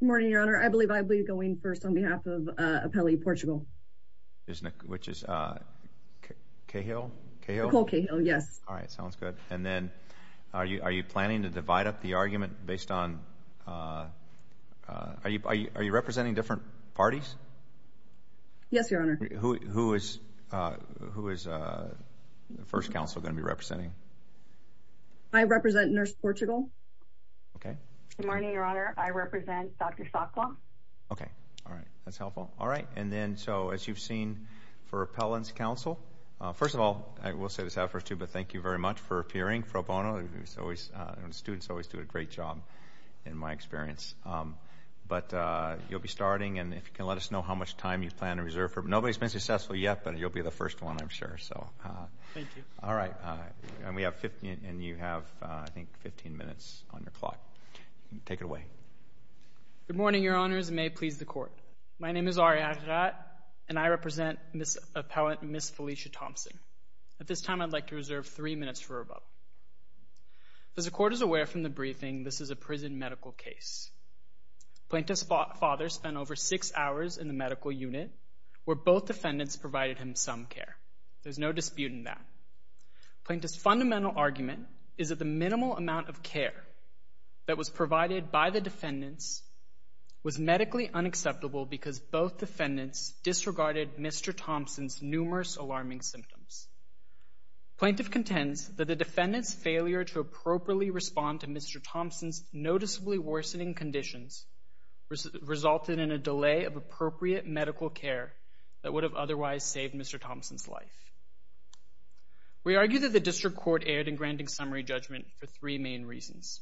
Good morning, Your Honor. I believe I'll be going first on behalf of Apelli Portugal. Which is Cahill? Cahill? Cole Cahill, yes. Alright, sounds good. And then, are you planning to divide up the argument based on... Are you representing different parties? Yes, Your Honor. Who is First Counsel going to be representing? I represent Nurse Portugal. Okay. Good morning, Your Honor. I represent Dr. Saukhla. Okay, alright. That's helpful. Alright, and then, so as you've seen for Appellant's Counsel... First of all, I will say this out first too, but thank you very much for appearing, pro bono. Students always do a great job, in my experience. But you'll be starting, and if you can let us know how much time you plan to reserve for... Nobody's been successful yet, but you'll be the first one, I'm sure. Thank you. Alright, and you have, I think, 15 minutes on your clock. Take it away. Good morning, Your Honors, and may it please the Court. My name is Arijat, and I represent Appellant Ms. Felicia Thompson. At this time, I'd like to reserve three minutes for rebuttal. As the Court is aware from the briefing, this is a prison medical case. Plaintiff's father spent over six hours in the medical unit, where both defendants provided him some care. There's no dispute in that. Plaintiff's fundamental argument is that the minimal amount of care that was provided by the defendants was medically unacceptable because both defendants disregarded Mr. Thompson's numerous alarming symptoms. Plaintiff contends that the defendants' failure to appropriately respond to Mr. Thompson's noticeably worsening conditions resulted in a delay of appropriate medical care that would have otherwise saved Mr. Thompson's life. We argue that the District Court erred in granting summary judgment for three main reasons.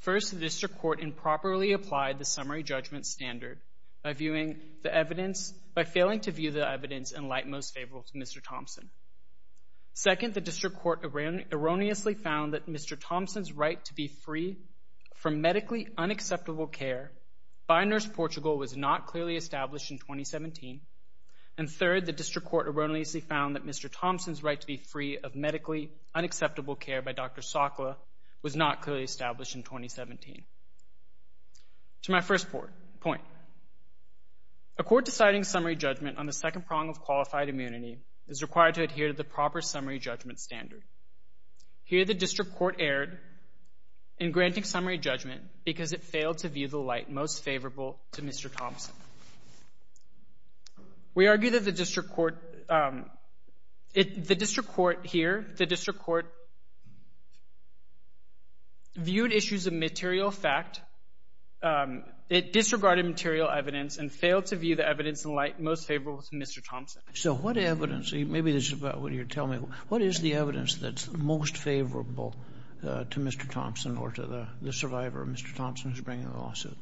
First, the District Court improperly applied the summary judgment standard by failing to view the evidence in light most favorable to Mr. Thompson. Second, the District Court erroneously found that Mr. Thompson's right to be free from medically unacceptable care by Nurse Portugal was not clearly established in 2017. And third, the District Court erroneously found that Mr. Thompson's right to be free of medically unacceptable care by Dr. Sokla was not clearly established in 2017. To my first point, a court deciding summary judgment on the second prong of qualified immunity is required to adhere to the proper summary judgment standard. Here, the District Court erred in granting summary judgment because it failed to view the light most favorable to Mr. Thompson. We argue that the District Court, um, it, the District Court here, the District Court viewed issues of material fact, um, it disregarded material evidence and failed to view the evidence in light most favorable to Mr. Thompson. So what evidence, maybe this is about what you're telling me, what is the evidence that's most favorable, uh, to Mr. Thompson or to the survivor of Mr. Thompson who's bringing the lawsuit?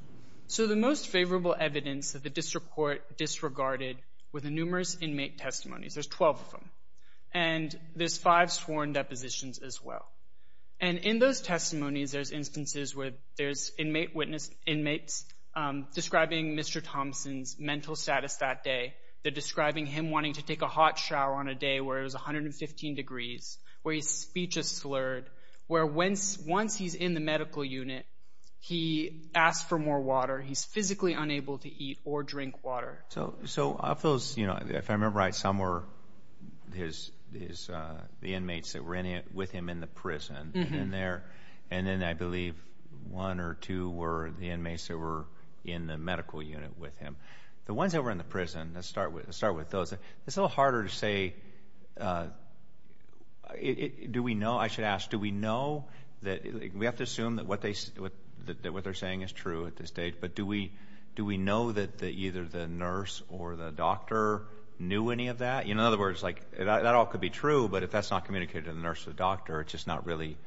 So the most favorable evidence that the District Court disregarded were the numerous inmate testimonies. There's 12 of them. And there's five sworn depositions as well. And in those testimonies, there's instances where there's inmate witness, inmates, um, describing Mr. Thompson's mental status that day. They're describing him wanting to take a hot shower on a day where it was 115 degrees, where his speech is slurred, where once, once he's in the medical unit, he asks for more water. He's physically unable to eat or drink water. So, so of those, you know, if I remember right, some were his, his, uh, the inmates that were in, with him in the prison. Mm-hmm. And they're, and then I believe one or two were the inmates that were in the medical unit with him. The ones that were in the prison, let's start with, let's start with those. It's a little harder to say, uh, do we know, I should ask, do we know that, we have to assume that what they, that what they're saying is true at this date, but do we, do we know that, that either the nurse or the doctor knew any of that? In other words, like, that all could be true, but if that's not communicated to the nurse or the doctor, it's just not really,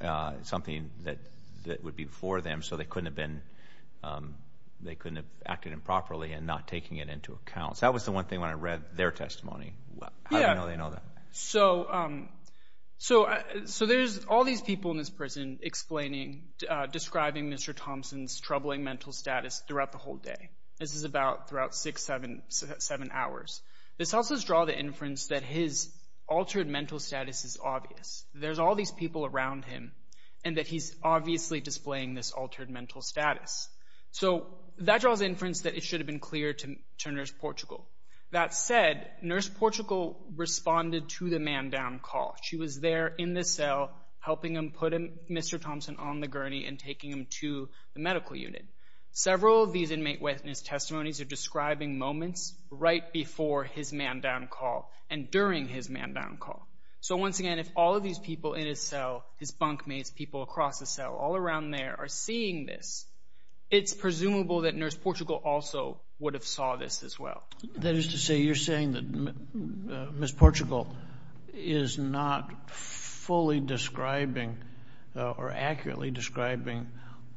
uh, something that, that would be for them. So they couldn't have been, um, they couldn't have acted improperly and not taking it into account. That was the one thing when I read their testimony. Yeah. How do they know that? So, um, so, so there's all these people in this prison explaining, describing Mr. Thompson's troubling mental status throughout the whole day. This is about, throughout six, seven, seven hours. This also draws the inference that his altered mental status is obvious. There's all these people around him and that he's obviously displaying this altered mental status. So that draws the inference that it should have been clear to, to Nurse Portugal. That said, Nurse Portugal responded to the man down call. She was there in the cell helping him put Mr. Thompson on the gurney and taking him to the medical unit. Several of these inmate witness testimonies are describing moments right before his man down call and during his man down call. So once again, if all of these people in his cell, his bunkmates, people across the cell, all around there are seeing this, it's presumable that Nurse Portugal also would have saw this as well. That is to say you're saying that Ms. Portugal is not fully describing or accurately describing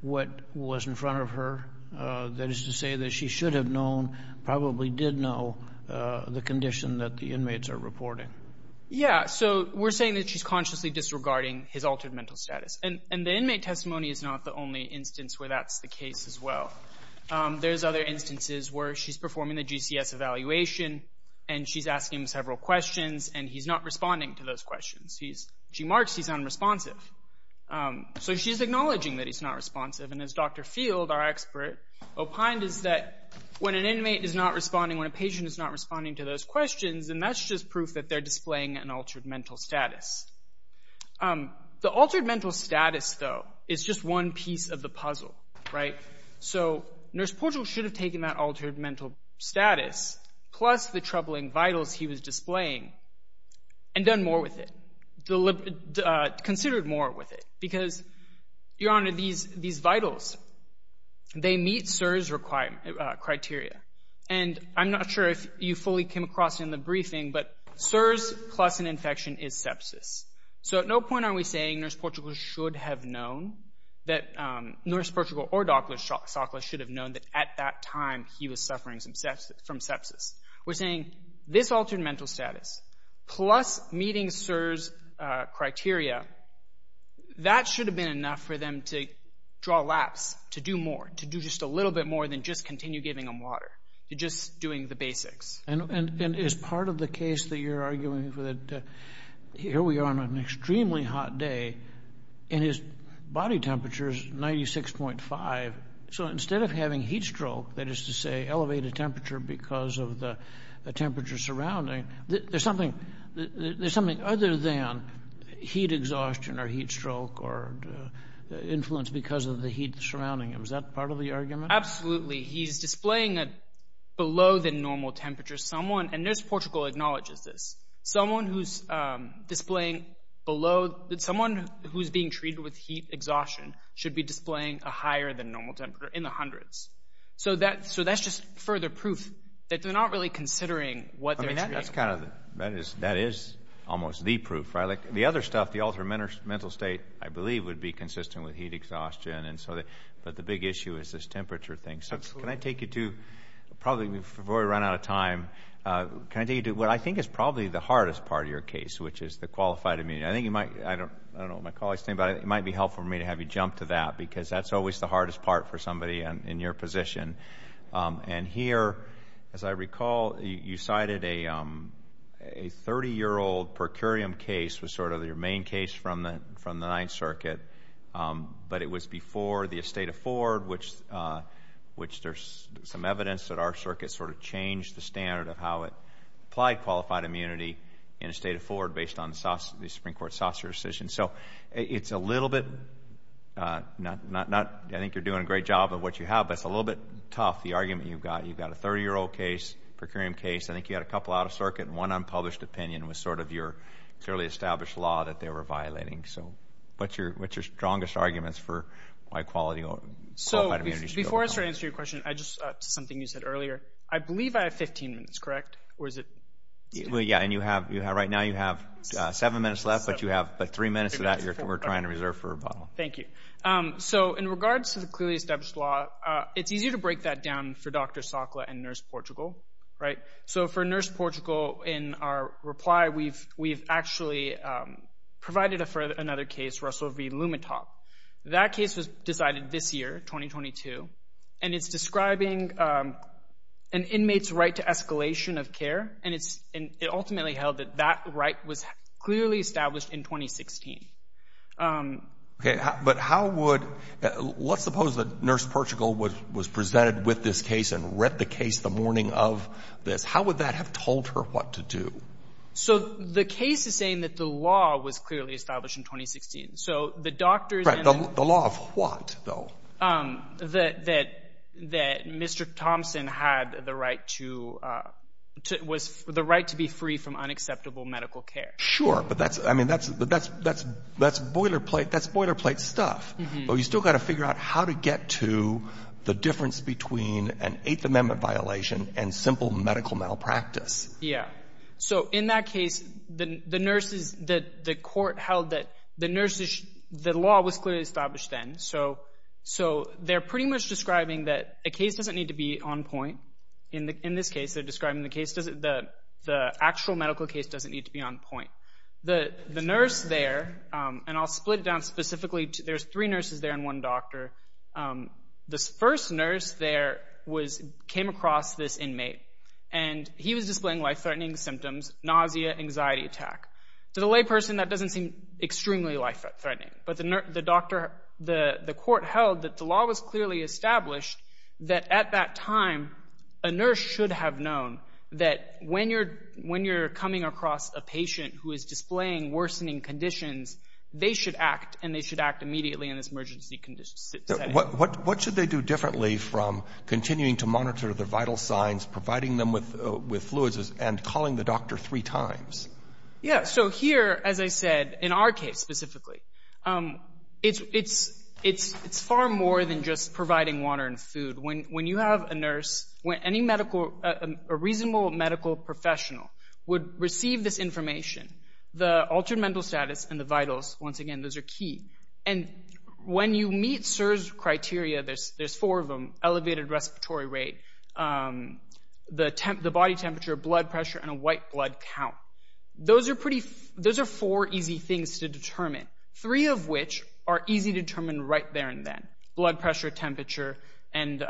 what was in front of her? That is to say that she should have known, probably did know the condition that the inmates are reporting. Yeah, so we're saying that she's consciously disregarding his altered mental status. And the inmate testimony is not the only instance where that's the case as well. There's other instances where she's performing the GCS evaluation and she's asking him several questions and he's not responding to those questions. She marks he's unresponsive. So she's acknowledging that he's not responsive. And as Dr. Field, our expert, opined is that when an inmate is not responding, when a patient is not responding to those questions, then that's just proof that they're displaying an altered mental status. The altered mental status, though, is just one piece of the puzzle, right? So Nurse Portugal should have taken that altered mental status plus the troubling vitals he was displaying and done more with it, considered more with it because, Your Honor, these vitals, they meet SIRS criteria. And I'm not sure if you fully came across it in the briefing, but SIRS plus an infection is sepsis. So at no point are we saying Nurse Portugal should have known, that Nurse Portugal or Dr. Sokla should have known that at that time he was suffering from sepsis. We're saying this altered mental status plus meeting SIRS criteria, that should have been enough for them to draw laps, to do more, to do just a little bit more than just continue giving them water, to just doing the basics. And is part of the case that you're arguing that here we are on an extremely hot day and his body temperature is 96.5. So instead of having heat stroke, that is to say elevated temperature because of the temperature surrounding, there's something other than heat exhaustion or heat stroke or influence because of the heat surrounding him. Is that part of the argument? Absolutely. He's displaying below the normal temperature. And Nurse Portugal acknowledges this. Someone who's being treated with heat exhaustion should be displaying a higher than normal temperature in the hundreds. So that's just further proof that they're not really considering what they're doing. That is almost the proof. The other stuff, the altered mental state, I believe, would be consistent with heat exhaustion. But the big issue is this temperature thing. So can I take you to probably before we run out of time, can I take you to what I think is probably the hardest part of your case, which is the qualified immunity. I don't know what my colleague is saying, but it might be helpful for me to have you jump to that because that's always the hardest part for somebody in your position. And here, as I recall, you cited a 30-year-old per curiam case was sort of your main case from the Ninth Circuit, but it was before the estate of Ford, which there's some evidence that our circuit sort of changed the standard of how it applied qualified immunity in the estate of Ford based on the Supreme Court's saucer decision. So it's a little bit, I think you're doing a great job of what you have, but it's a little bit tough, the argument you've got. You've got a 30-year-old case, per curiam case. I think you had a couple out of circuit, and one unpublished opinion was sort of your clearly established law that they were violating. So what's your strongest arguments for why qualified immunity should go down? Before I start answering your question, something you said earlier, I believe I have 15 minutes, correct? Yeah, and right now you have seven minutes left, but three minutes of that we're trying to reserve for a bottle. Thank you. So in regards to the clearly established law, it's easier to break that down for Dr. Sokla and Nurse Portugal. So for Nurse Portugal, in our reply, we've actually provided for another case, Russell v. Lumetop. That case was decided this year, 2022, and it's describing an inmate's right to escalation of care, and it ultimately held that that right was clearly established in 2016. But how would, let's suppose that Nurse Portugal was presented with this case and read the case the morning of this, how would that have told her what to do? So the case is saying that the law was clearly established in 2016. So the doctors and the law of what, though? That Mr. Thompson had the right to be free from unacceptable medical care. Sure, but that's boilerplate stuff. But we've still got to figure out how to get to the difference between an Eighth Amendment violation and simple medical malpractice. Yeah. So in that case, the court held that the law was clearly established then. So they're pretty much describing that a case doesn't need to be on point. In this case, they're describing the actual medical case doesn't need to be on point. The nurse there, and I'll split it down specifically. There's three nurses there and one doctor. This first nurse there came across this inmate, and he was displaying life-threatening symptoms, nausea, anxiety attack. To the layperson, that doesn't seem extremely life-threatening. But the court held that the law was clearly established, that at that time a nurse should have known that when you're coming across a patient who is displaying worsening conditions, they should act, and they should act immediately in this emergency setting. What should they do differently from continuing to monitor their vital signs, providing them with fluids, and calling the doctor three times? Yeah, so here, as I said, in our case specifically, it's far more than just providing water and food. When you have a nurse, when a reasonable medical professional would receive this information, the altered mental status and the vitals, once again, those are key. When you meet SIRS criteria, there's four of them, elevated respiratory rate, the body temperature, blood pressure, and a white blood count. Those are four easy things to determine, three of which are easy to determine right there and then, blood pressure, temperature, and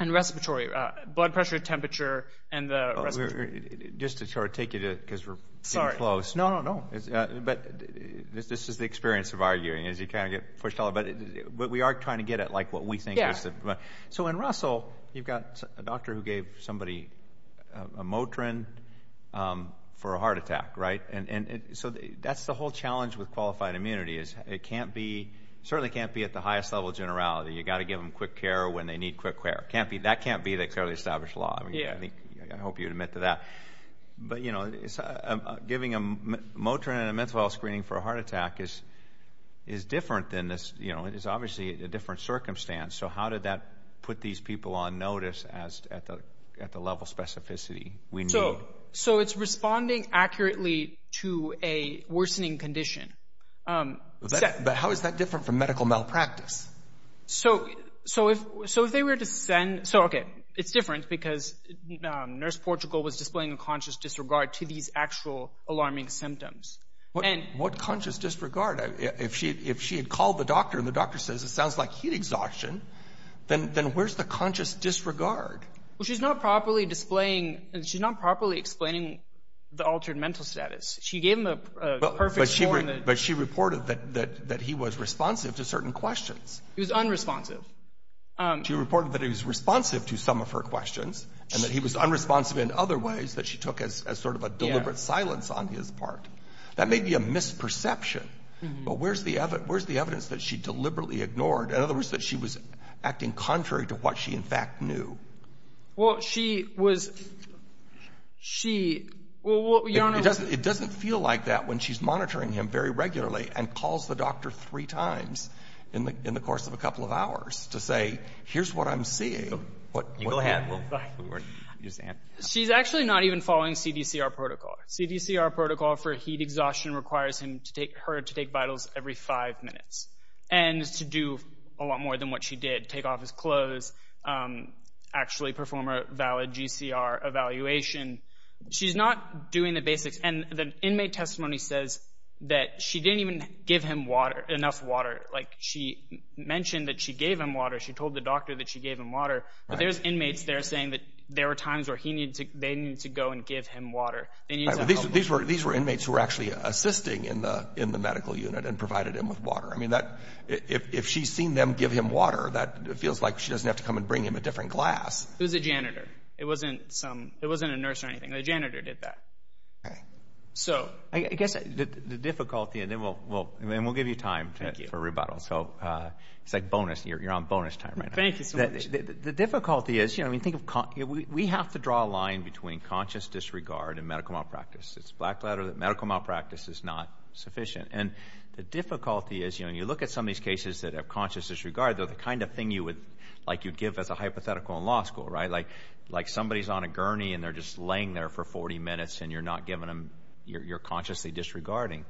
respiratory rate. Blood pressure, temperature, and the respiratory rate. Just to take you to it because we're getting close. Sorry. No, no, no. But this is the experience of arguing, is you kind of get pushed all over. But we are trying to get at what we think. Yeah. So in Russell, you've got a doctor who gave somebody a Motrin for a heart attack, right? So that's the whole challenge with qualified immunity is it certainly can't be at the highest level of generality. You've got to give them quick care when they need quick care. That can't be the clearly established law. I hope you'd admit to that. But giving a Motrin and a menthol screening for a heart attack is different than this. It's obviously a different circumstance. So how did that put these people on notice at the level of specificity we need? So it's responding accurately to a worsening condition. But how is that different from medical malpractice? So it's different because Nurse Portugal was displaying a conscious disregard to these actual alarming symptoms. What conscious disregard? If she had called the doctor and the doctor says it sounds like heat exhaustion, then where's the conscious disregard? Well, she's not properly displaying and she's not properly explaining the altered mental status. She gave him a perfect score. But she reported that he was responsive to certain questions. He was unresponsive. She reported that he was responsive to some of her questions and that he was unresponsive in other ways that she took as sort of a deliberate silence on his part. That may be a misperception. But where's the evidence that she deliberately ignored? In other words, that she was acting contrary to what she in fact knew. Well, she was – she – well, Your Honor. It doesn't feel like that when she's monitoring him very regularly and calls the doctor three times in the course of a couple of hours to say, here's what I'm seeing. Go ahead. She's actually not even following CDCR protocol. CDCR protocol for heat exhaustion requires her to take vitals every five minutes and to do a lot more than what she did, take off his clothes, actually perform a valid GCR evaluation. She's not doing the basics. And the inmate testimony says that she didn't even give him water, enough water. Like she mentioned that she gave him water. She told the doctor that she gave him water. But there's inmates there saying that there were times where he needed to – they needed to go and give him water. These were inmates who were actually assisting in the medical unit and provided him with water. I mean, if she's seen them give him water, that feels like she doesn't have to come and bring him a different glass. It was a janitor. It wasn't some – it wasn't a nurse or anything. The janitor did that. Okay. So – I guess the difficulty – and then we'll give you time for rebuttal. So it's like bonus. You're on bonus time right now. Thank you so much. The difficulty is, you know, I mean, think of – we have to draw a line between conscious disregard and medical malpractice. It's a black ladder that medical malpractice is not sufficient. And the difficulty is, you know, when you look at some of these cases that have conscious disregard, they're the kind of thing you would – like you'd give as a hypothetical in law school, right? Like somebody's on a gurney and they're just laying there for 40 minutes and you're not giving them – you're consciously disregarding.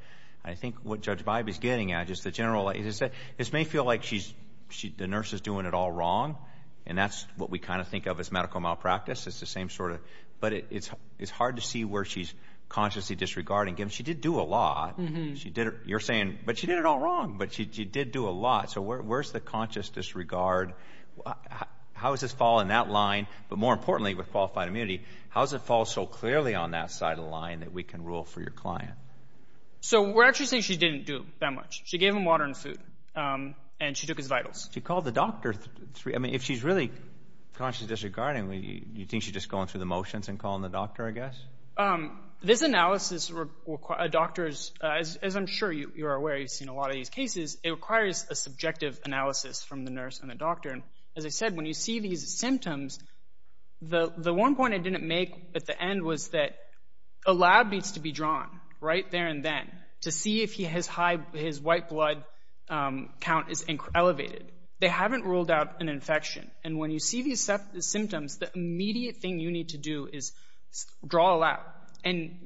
I think what Judge Bybee's getting at is the general – it may feel like the nurse is doing it all wrong, and that's what we kind of think of as medical malpractice. It's the same sort of – but it's hard to see where she's consciously disregarding. She did do a lot. You're saying, but she did it all wrong. But she did do a lot. So where's the conscious disregard? How does this fall in that line? But more importantly, with qualified immunity, how does it fall so clearly on that side of the line that we can rule for your client? So we're actually saying she didn't do that much. She gave him water and food, and she took his vitals. She called the doctor. I mean, if she's really consciously disregarding, you think she's just going through the motions and calling the doctor, I guess? This analysis requires a doctor's – as I'm sure you're aware, you've seen a lot of these cases, it requires a subjective analysis from the nurse and the doctor. And as I said, when you see these symptoms, the one point I didn't make at the end was that a lab needs to be drawn right there and then to see if his white blood count is elevated. They haven't ruled out an infection. And when you see these symptoms, the immediate thing you need to do is draw a lab. And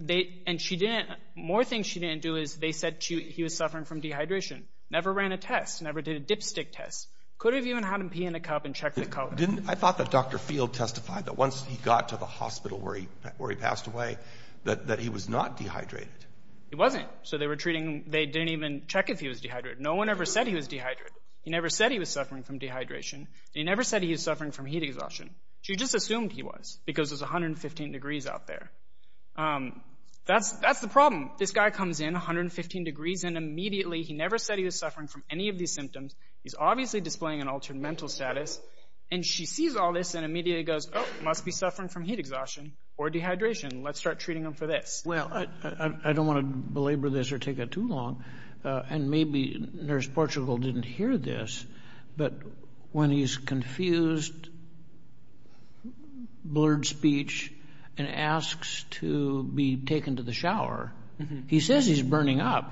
more things she didn't do is they said he was suffering from dehydration. Never ran a test. Never did a dipstick test. Could have even had him pee in a cup and check the color. Didn't – I thought that Dr. Field testified that once he got to the hospital where he passed away that he was not dehydrated. He wasn't. So they were treating – they didn't even check if he was dehydrated. No one ever said he was dehydrated. He never said he was suffering from dehydration. And he never said he was suffering from heat exhaustion. She just assumed he was because it was 115 degrees out there. That's the problem. This guy comes in, 115 degrees, and immediately he never said he was suffering from any of these symptoms. He's obviously displaying an altered mental status. And she sees all this and immediately goes, oh, must be suffering from heat exhaustion or dehydration. Let's start treating him for this. Well, I don't want to belabor this or take it too long, and maybe Nurse Portugal didn't hear this, but when he's confused, blurred speech, and asks to be taken to the shower, he says he's burning up.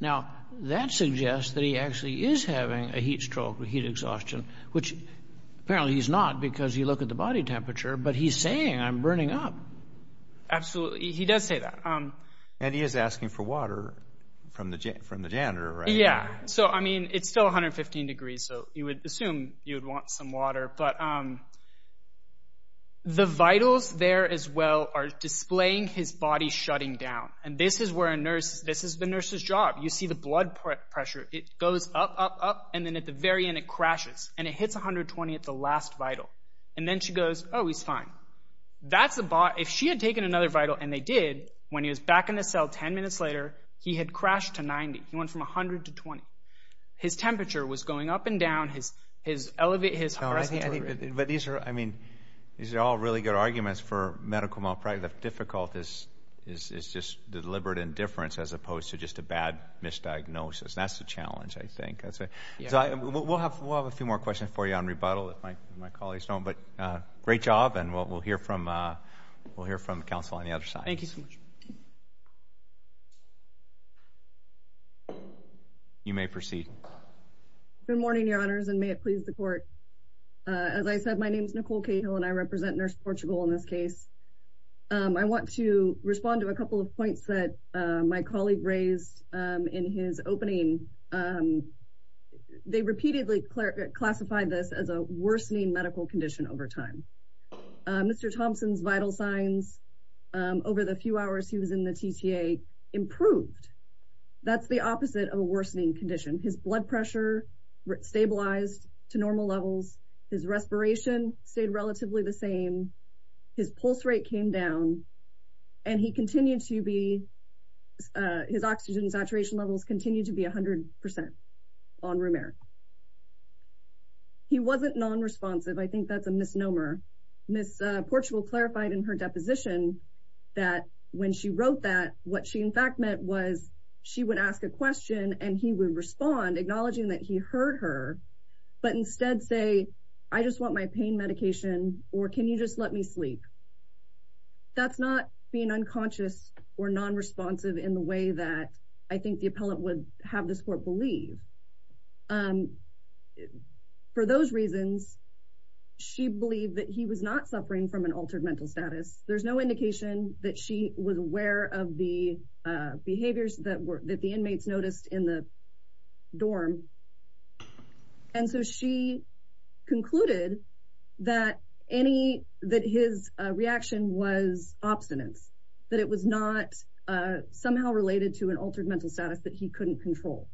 Now, that suggests that he actually is having a heat stroke or heat exhaustion, which apparently he's not because you look at the body temperature. But he's saying I'm burning up. Absolutely. He does say that. And he is asking for water from the janitor, right? Yeah. So, I mean, it's still 115 degrees, so you would assume you would want some water. But the vitals there as well are displaying his body shutting down. And this is the nurse's job. You see the blood pressure. It goes up, up, up, and then at the very end it crashes. And it hits 120 at the last vital. And then she goes, oh, he's fine. If she had taken another vital, and they did, when he was back in the cell ten minutes later, he had crashed to 90. He went from 100 to 20. His temperature was going up and down. But these are all really good arguments for medical malpractice. Difficult is just deliberate indifference as opposed to just a bad misdiagnosis. That's the challenge, I think. We'll have a few more questions for you on rebuttal if my colleagues don't. But great job, and we'll hear from counsel on the other side. Thank you so much. You may proceed. Good morning, Your Honors, and may it please the Court. As I said, my name is Nicole Cahill, and I represent Nurse Portugal in this case. I want to respond to a couple of points that my colleague raised in his opening. They repeatedly classified this as a worsening medical condition over time. Mr. Thompson's vital signs over the few hours he was in the TTA improved. That's the opposite of a worsening condition. His blood pressure stabilized to normal levels. His respiration stayed relatively the same. His pulse rate came down, and his oxygen saturation levels continued to be 100% on room air. He wasn't nonresponsive. I think that's a misnomer. Ms. Portugal clarified in her deposition that when she wrote that, what she in fact meant was she would ask a question, and he would respond, acknowledging that he heard her, but instead say, I just want my pain medication, or can you just let me sleep? That's not being unconscious or nonresponsive in the way that I think the appellant would have this Court believe. For those reasons, she believed that he was not suffering from an altered mental status. There's no indication that she was aware of the behaviors that the inmates noticed in the dorm, and so she concluded that his reaction was obstinance, that it was not somehow related to an altered mental status that he couldn't control.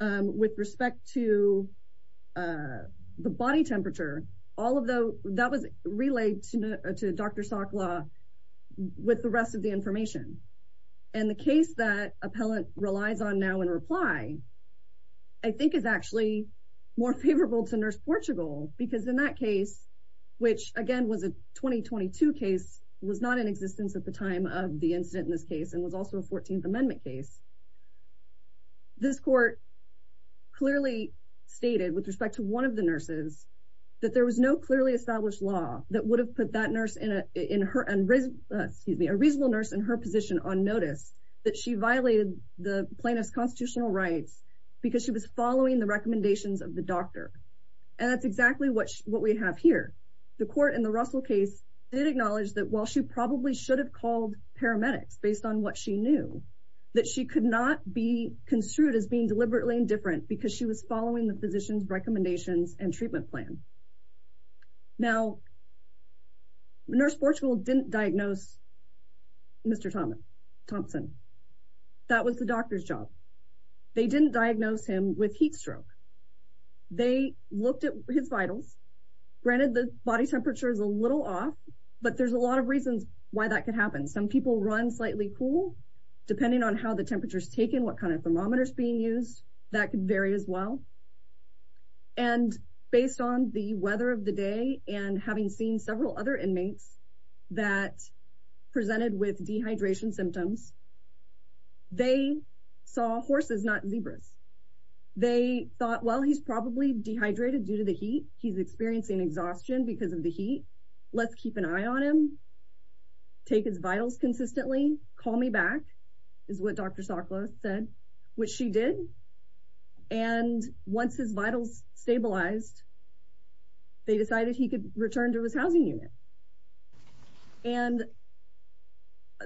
With respect to the body temperature, that was relayed to Dr. Sakhla with the rest of the information, and the case that appellant relies on now in reply I think is actually more favorable to Nurse Portugal because in that case, which again was a 2022 case, was not in existence at the time of the incident in this case and was also a 14th Amendment case, this Court clearly stated with respect to one of the nurses that there was no clearly established law that would have put a reasonable nurse in her position on notice that she violated the plaintiff's constitutional rights because she was following the recommendations of the doctor, and that's exactly what we have here. The Court in the Russell case did acknowledge that while she probably should have called paramedics based on what she knew, that she could not be construed as being deliberately indifferent because she was following the physician's recommendations and treatment plan. Now, Nurse Portugal didn't diagnose Mr. Thompson. That was the doctor's job. They didn't diagnose him with heat stroke. They looked at his vitals. Granted, the body temperature is a little off, but there's a lot of reasons why that could happen. Some people run slightly cool. Depending on how the temperature is taken, what kind of thermometer is being used, that could vary as well. And based on the weather of the day and having seen several other inmates that presented with dehydration symptoms, they saw horses, not zebras. They thought, well, he's probably dehydrated due to the heat. He's experiencing exhaustion because of the heat. Let's keep an eye on him. Take his vitals consistently. Call me back, is what Dr. Sokla said, which she did. And once his vitals stabilized, they decided he could return to his housing unit. And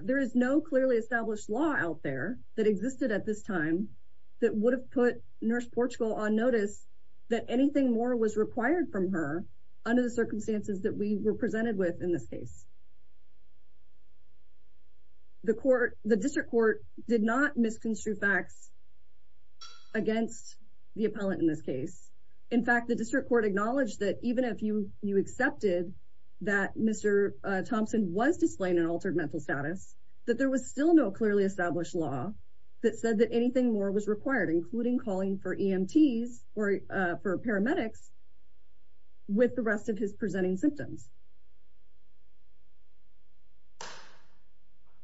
there is no clearly established law out there that existed at this time that would have put Nurse Portugal on notice that anything more was required from her under the circumstances that we were presented with in this case. The district court did not misconstrue facts against the appellant in this case. In fact, the district court acknowledged that even if you accepted that Mr. Thompson was displaying an altered mental status, that there was still no clearly established law that said that anything more was required, including calling for EMTs or for paramedics with the rest of his presenting symptoms.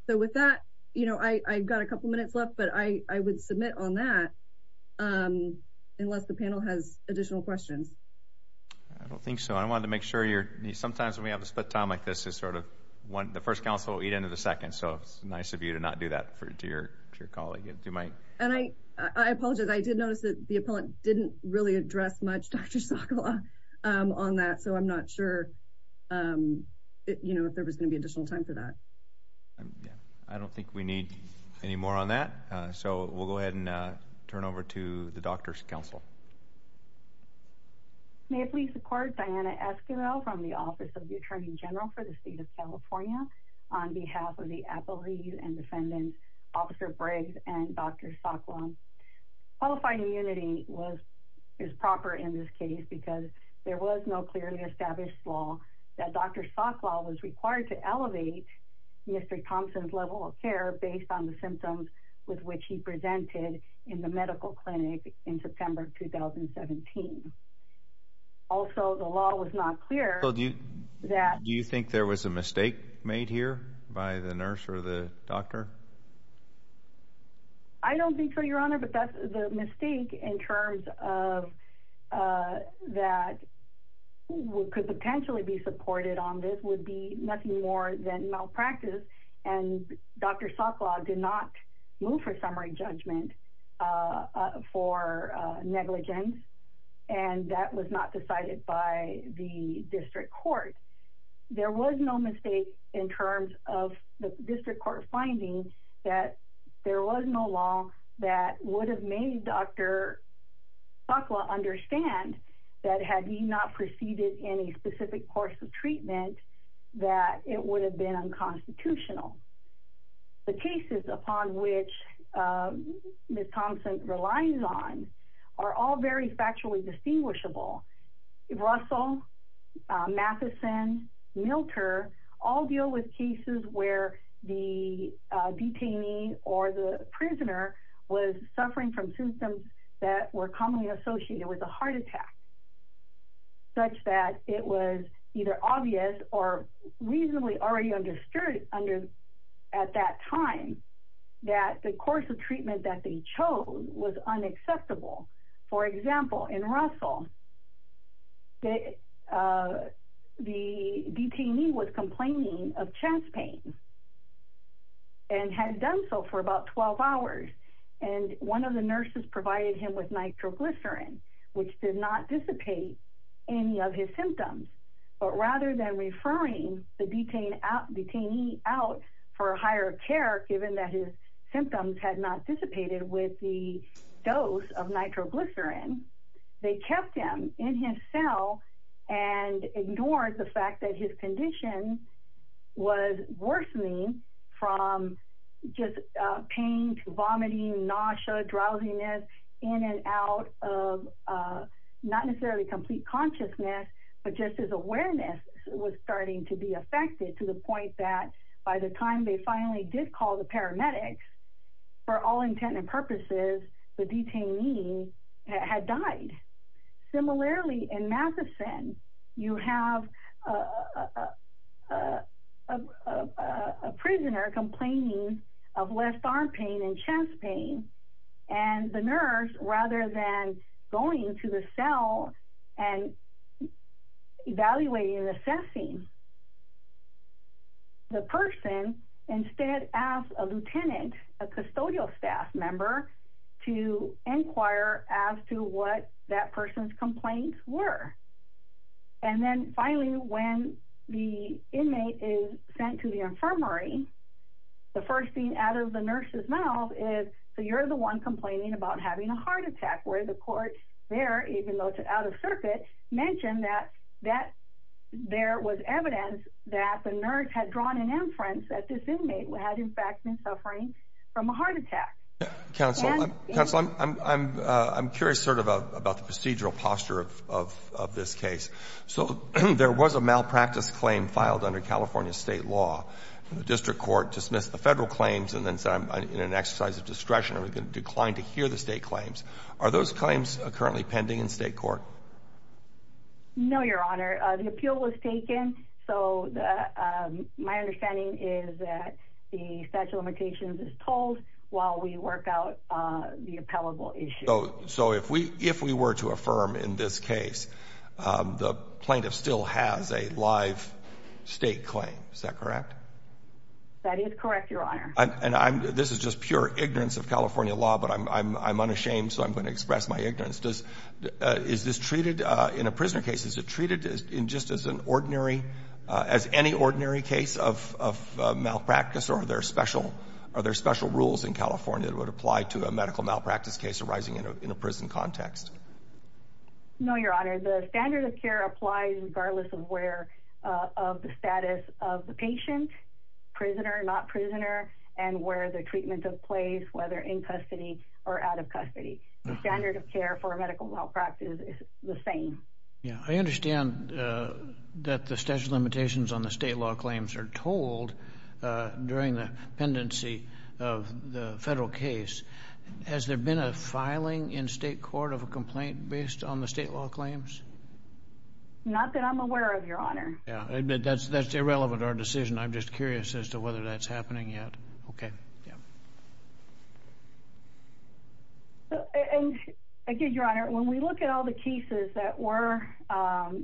So with that, I've got a couple minutes left, but I would submit on that unless the panel has additional questions. I don't think so. I wanted to make sure. Sometimes when we have a split time like this, the first counsel will eat into the second, so it's nice of you to not do that to your colleague. And I apologize. I did notice that the appellant didn't really address much Dr. Sokla on that, so I'm not sure if there was going to be additional time for that. I don't think we need any more on that, so we'll go ahead and turn over to the doctor's counsel. May I please record Diana Esquivel from the Office of the Attorney General for the State of California on behalf of the appellees and defendants, Officer Briggs and Dr. Sokla. Qualifying immunity is proper in this case because there was no clearly established law that Dr. Sokla was required to elevate Mr. Thompson's level of care based on the symptoms with which he presented in the medical clinic in September 2017. Also, the law was not clear that – Do you think there was a mistake made here by the nurse or the doctor? I don't think so, Your Honor, but the mistake in terms of that could potentially be supported on this would be nothing more than malpractice, and Dr. Sokla did not move for summary judgment for negligence, and that was not decided by the district court. There was no mistake in terms of the district court finding that there was no law that would have made Dr. Sokla understand that had he not proceeded in a specific course of treatment that it would have been unconstitutional. The cases upon which Ms. Thompson relies on are all very factually distinguishable. Russell, Matheson, Milter all deal with cases where the detainee or the prisoner was suffering from symptoms that were commonly associated with a heart attack, such that it was either obvious or reasonably already understood at that time that the course of treatment that they chose was unacceptable. For example, in Russell, the detainee was complaining of chest pain and had done so for about 12 hours, and one of the nurses provided him with nitroglycerin, which did not dissipate any of his symptoms, but rather than referring the detainee out for higher care, given that his symptoms had not dissipated with the dose of nitroglycerin, they kept him in his cell and ignored the fact that his condition was worsening from just pain to vomiting, nausea, drowsiness, in and out of not necessarily complete consciousness, but just his awareness was starting to be affected to the point that by the time they finally did call the paramedics, for all intent and purposes, the detainee had died. Similarly, in Matheson, you have a prisoner complaining of left arm pain and chest pain, and the nurse, rather than going to the cell and evaluating and assessing the person, instead asked a lieutenant, a custodial staff member, to inquire as to what that person's complaints were. And then finally, when the inmate is sent to the infirmary, the first thing out of the nurse's mouth is, so you're the one complaining about having a heart attack, where the court there, even though it's out of circuit, mentioned that there was evidence that the nurse had drawn an inference that this inmate had in fact been suffering from a heart attack. Counsel, I'm curious sort of about the procedural posture of this case. So there was a malpractice claim filed under California state law. The district court dismissed the federal claims and then in an exercise of discretion declined to hear the state claims. Are those claims currently pending in state court? No, Your Honor. The appeal was taken. So my understanding is that the statute of limitations is told while we work out the appellable issue. So if we were to affirm in this case, the plaintiff still has a live state claim. Is that correct? That is correct, Your Honor. And this is just pure ignorance of California law, but I'm unashamed, so I'm going to express my ignorance. Is this treated in a prisoner case? Is it treated just as any ordinary case of malpractice, or are there special rules in California that would apply to a medical malpractice case arising in a prison context? No, Your Honor. The standard of care applies regardless of the status of the patient, prisoner, not prisoner, and where the treatment took place, whether in custody or out of custody. The standard of care for a medical malpractice is the same. I understand that the statute of limitations on the state law claims are told during the pendency of the federal case. Has there been a filing in state court of a complaint based on the state law claims? Not that I'm aware of, Your Honor. That's irrelevant to our decision. I'm just curious as to whether that's happening yet. Thank you, Your Honor. When we look at all the cases that are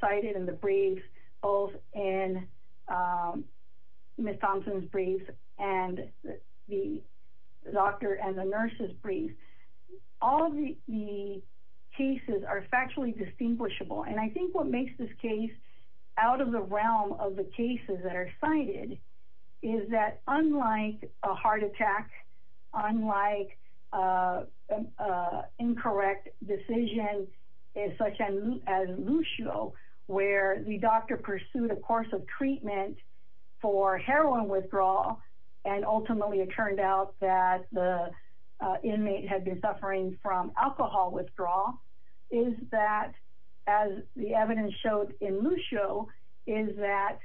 cited in the briefs, both in Ms. Thompson's brief and the doctor and the nurse's brief, all of the cases are factually distinguishable. I think what makes this case out of the realm of the cases that are cited is that unlike a heart attack, unlike an incorrect decision such as Lucio where the doctor pursued a course of treatment for heroin withdrawal and ultimately it turned out that the inmate had been suffering from alcohol withdrawal, is that, as the evidence showed in Lucio, is that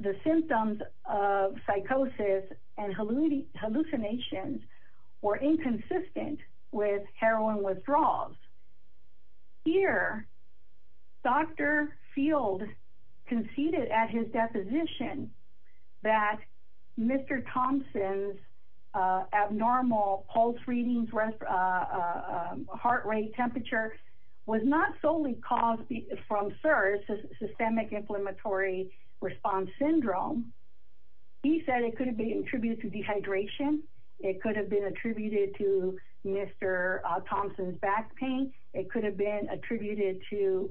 the symptoms of psychosis and hallucinations were inconsistent with heroin withdrawals. Here, Dr. Field conceded at his deposition that Mr. Thompson's abnormal pulse readings, heart rate, temperature, was not solely caused from SIRS, systemic inflammatory response syndrome. He said it could have been attributed to dehydration. It could have been attributed to Mr. Thompson's back pain. It could have been attributed to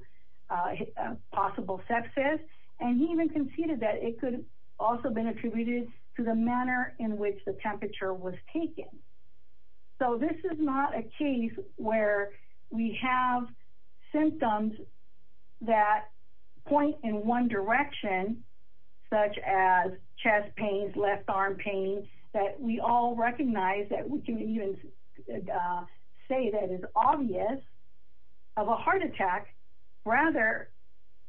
possible sepsis. And he even conceded that it could also have been attributed to the manner in which the temperature was taken. So this is not a case where we have symptoms that point in one direction, such as chest pains, left arm pain, that we all recognize that we can even say that it's obvious of a heart attack. Rather,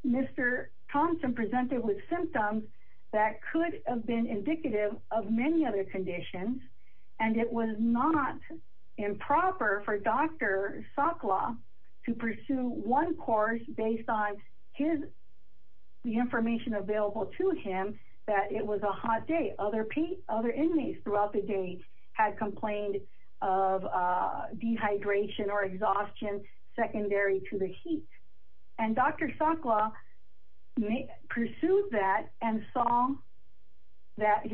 Mr. Thompson presented with symptoms that could have been indicative of many other conditions and it was not improper for Dr. Sakla to pursue one course based on the information available to him that it was a hot day. Other inmates throughout the day had complained of dehydration or exhaustion secondary to the heat. And Dr. Sakla pursued that and saw that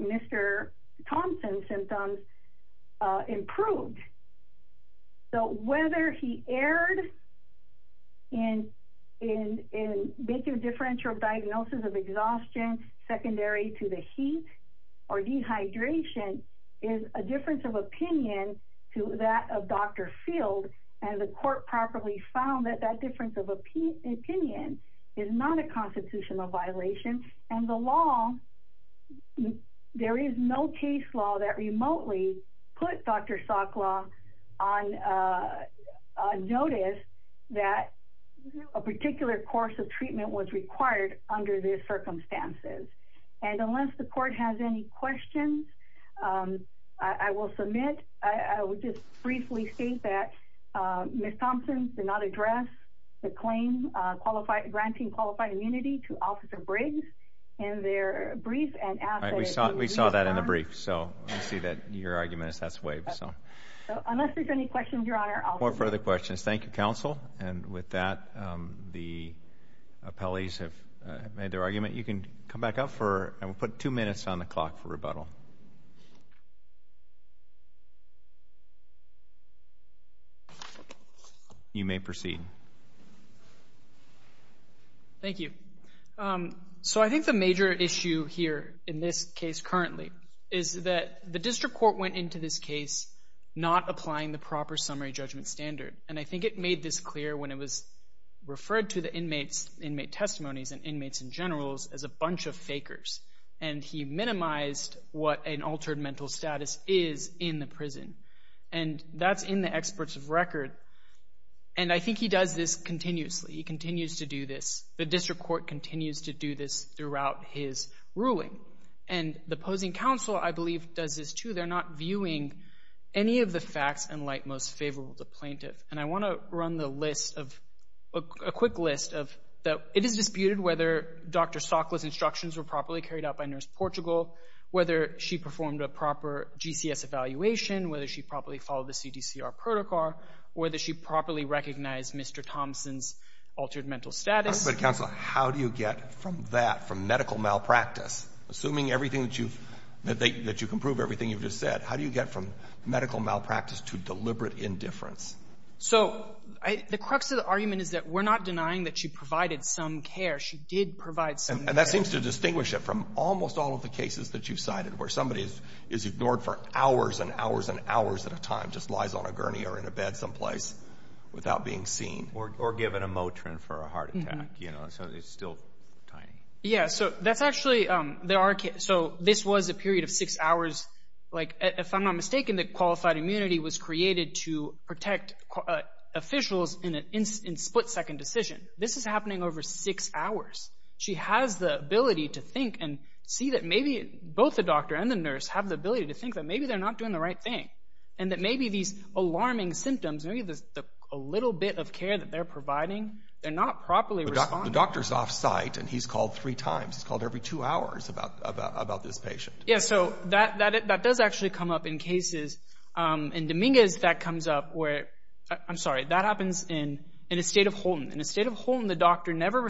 Mr. Thompson's symptoms improved. So whether he erred in making a differential diagnosis of exhaustion secondary to the heat or dehydration is a difference of opinion to that of Dr. Field. And the court properly found that that difference of opinion is not a constitutional violation. And the law, there is no case law that remotely put Dr. Sakla on notice that a particular course of treatment was required under these circumstances. And unless the court has any questions, I will submit. I will just briefly state that Ms. Thompson did not address the claim granting qualified immunity to Officer Briggs in their brief. We saw that in the brief. So I see that your argument is that's waived. So unless there's any questions, Your Honor, I'll... No further questions. Thank you, counsel. And with that, the appellees have made their argument. You can come back up for... I will put two minutes on the clock for rebuttal. You may proceed. Thank you. So I think the major issue here in this case currently is that the district court went into this case not applying the proper summary judgment standard. And I think it made this clear when it was referred to the inmates, inmate testimonies and inmates in general as a bunch of fakers. And he minimized what an altered mental status is in the prison. And that's in the experts of record. And I think he does this continuously. He continues to do this. The district court continues to do this throughout his ruling. And the opposing counsel, I believe, does this too. They're not viewing any of the facts in light most favorable to plaintiff. And I want to run the list of, a quick list of, it is disputed whether Dr. Sockler's instructions were properly carried out by Nurse Portugal, whether she performed a proper GCS evaluation, whether she properly followed the CDCR protocol, whether she properly recognized Mr. Thompson's altered mental status. But, counsel, how do you get from that, from medical malpractice, assuming everything that you've, that you can prove everything you've just said, how do you get from medical malpractice to deliberate indifference? So the crux of the argument is that we're not denying that she provided some care. She did provide some care. And that seems to distinguish it from almost all of the cases that you've cited, where somebody is ignored for hours and hours and hours at a time, just lies on a gurney or in a bed someplace without being seen. Or given a Motrin for a heart attack, you know, so it's still tiny. Yeah, so that's actually, there are, so this was a period of six hours. Like, if I'm not mistaken, the qualified immunity was created to protect officials in a split-second decision. This is happening over six hours. She has the ability to think and see that maybe both the doctor and the nurse have the ability to think that maybe they're not doing the right thing. And that maybe these alarming symptoms, maybe there's a little bit of care that they're providing, they're not properly responding. The doctor's off-site, and he's called three times. He's called every two hours about this patient. Yeah, so that does actually come up in cases. In Dominguez, that comes up where, I'm sorry, that happens in the state of Holton. In the state of Holton, the doctor never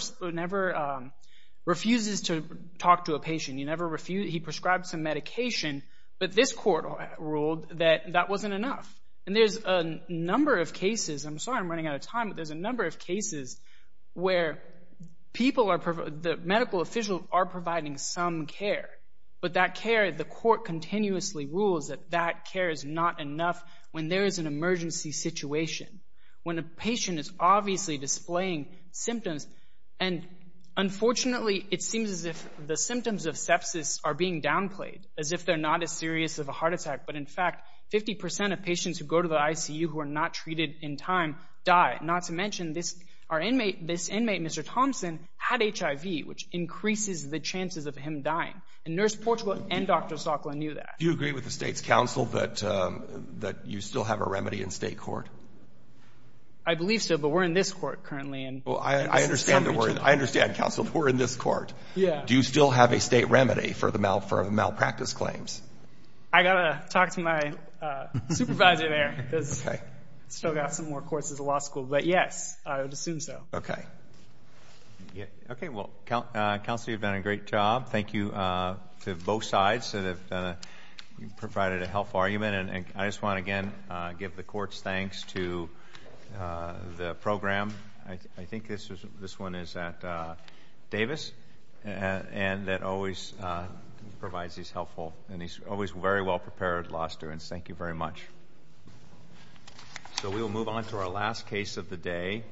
refuses to talk to a patient. He prescribed some medication, but this court ruled that that wasn't enough. And there's a number of cases, I'm sorry I'm running out of time, but there's a number of cases where the medical officials are providing some care, but that care, the court continuously rules that that care is not enough when there is an emergency situation, when a patient is obviously displaying symptoms. And unfortunately, it seems as if the symptoms of sepsis are being downplayed, as if they're not as serious of a heart attack. But in fact, 50% of patients who go to the ICU who are not treated in time die. Not to mention, this inmate, Mr. Thompson, had HIV, which increases the chances of him dying. And Nurse Portugal and Dr. Zocla knew that. Do you agree with the state's counsel that you still have a remedy in state court? I believe so, but we're in this court currently. I understand, counsel, we're in this court. Do you still have a state remedy for the malpractice claims? I've got to talk to my supervisor there, because I've still got some more courses in law school. But yes, I would assume so. Okay. Okay, well, counsel, you've done a great job. Thank you to both sides that have provided a helpful argument. And I just want to, again, give the court's thanks to the program. I think this one is at Davis, and that always provides these helpful and he's always very well-prepared law students. Thank you very much. So we will move on to our last case of the day.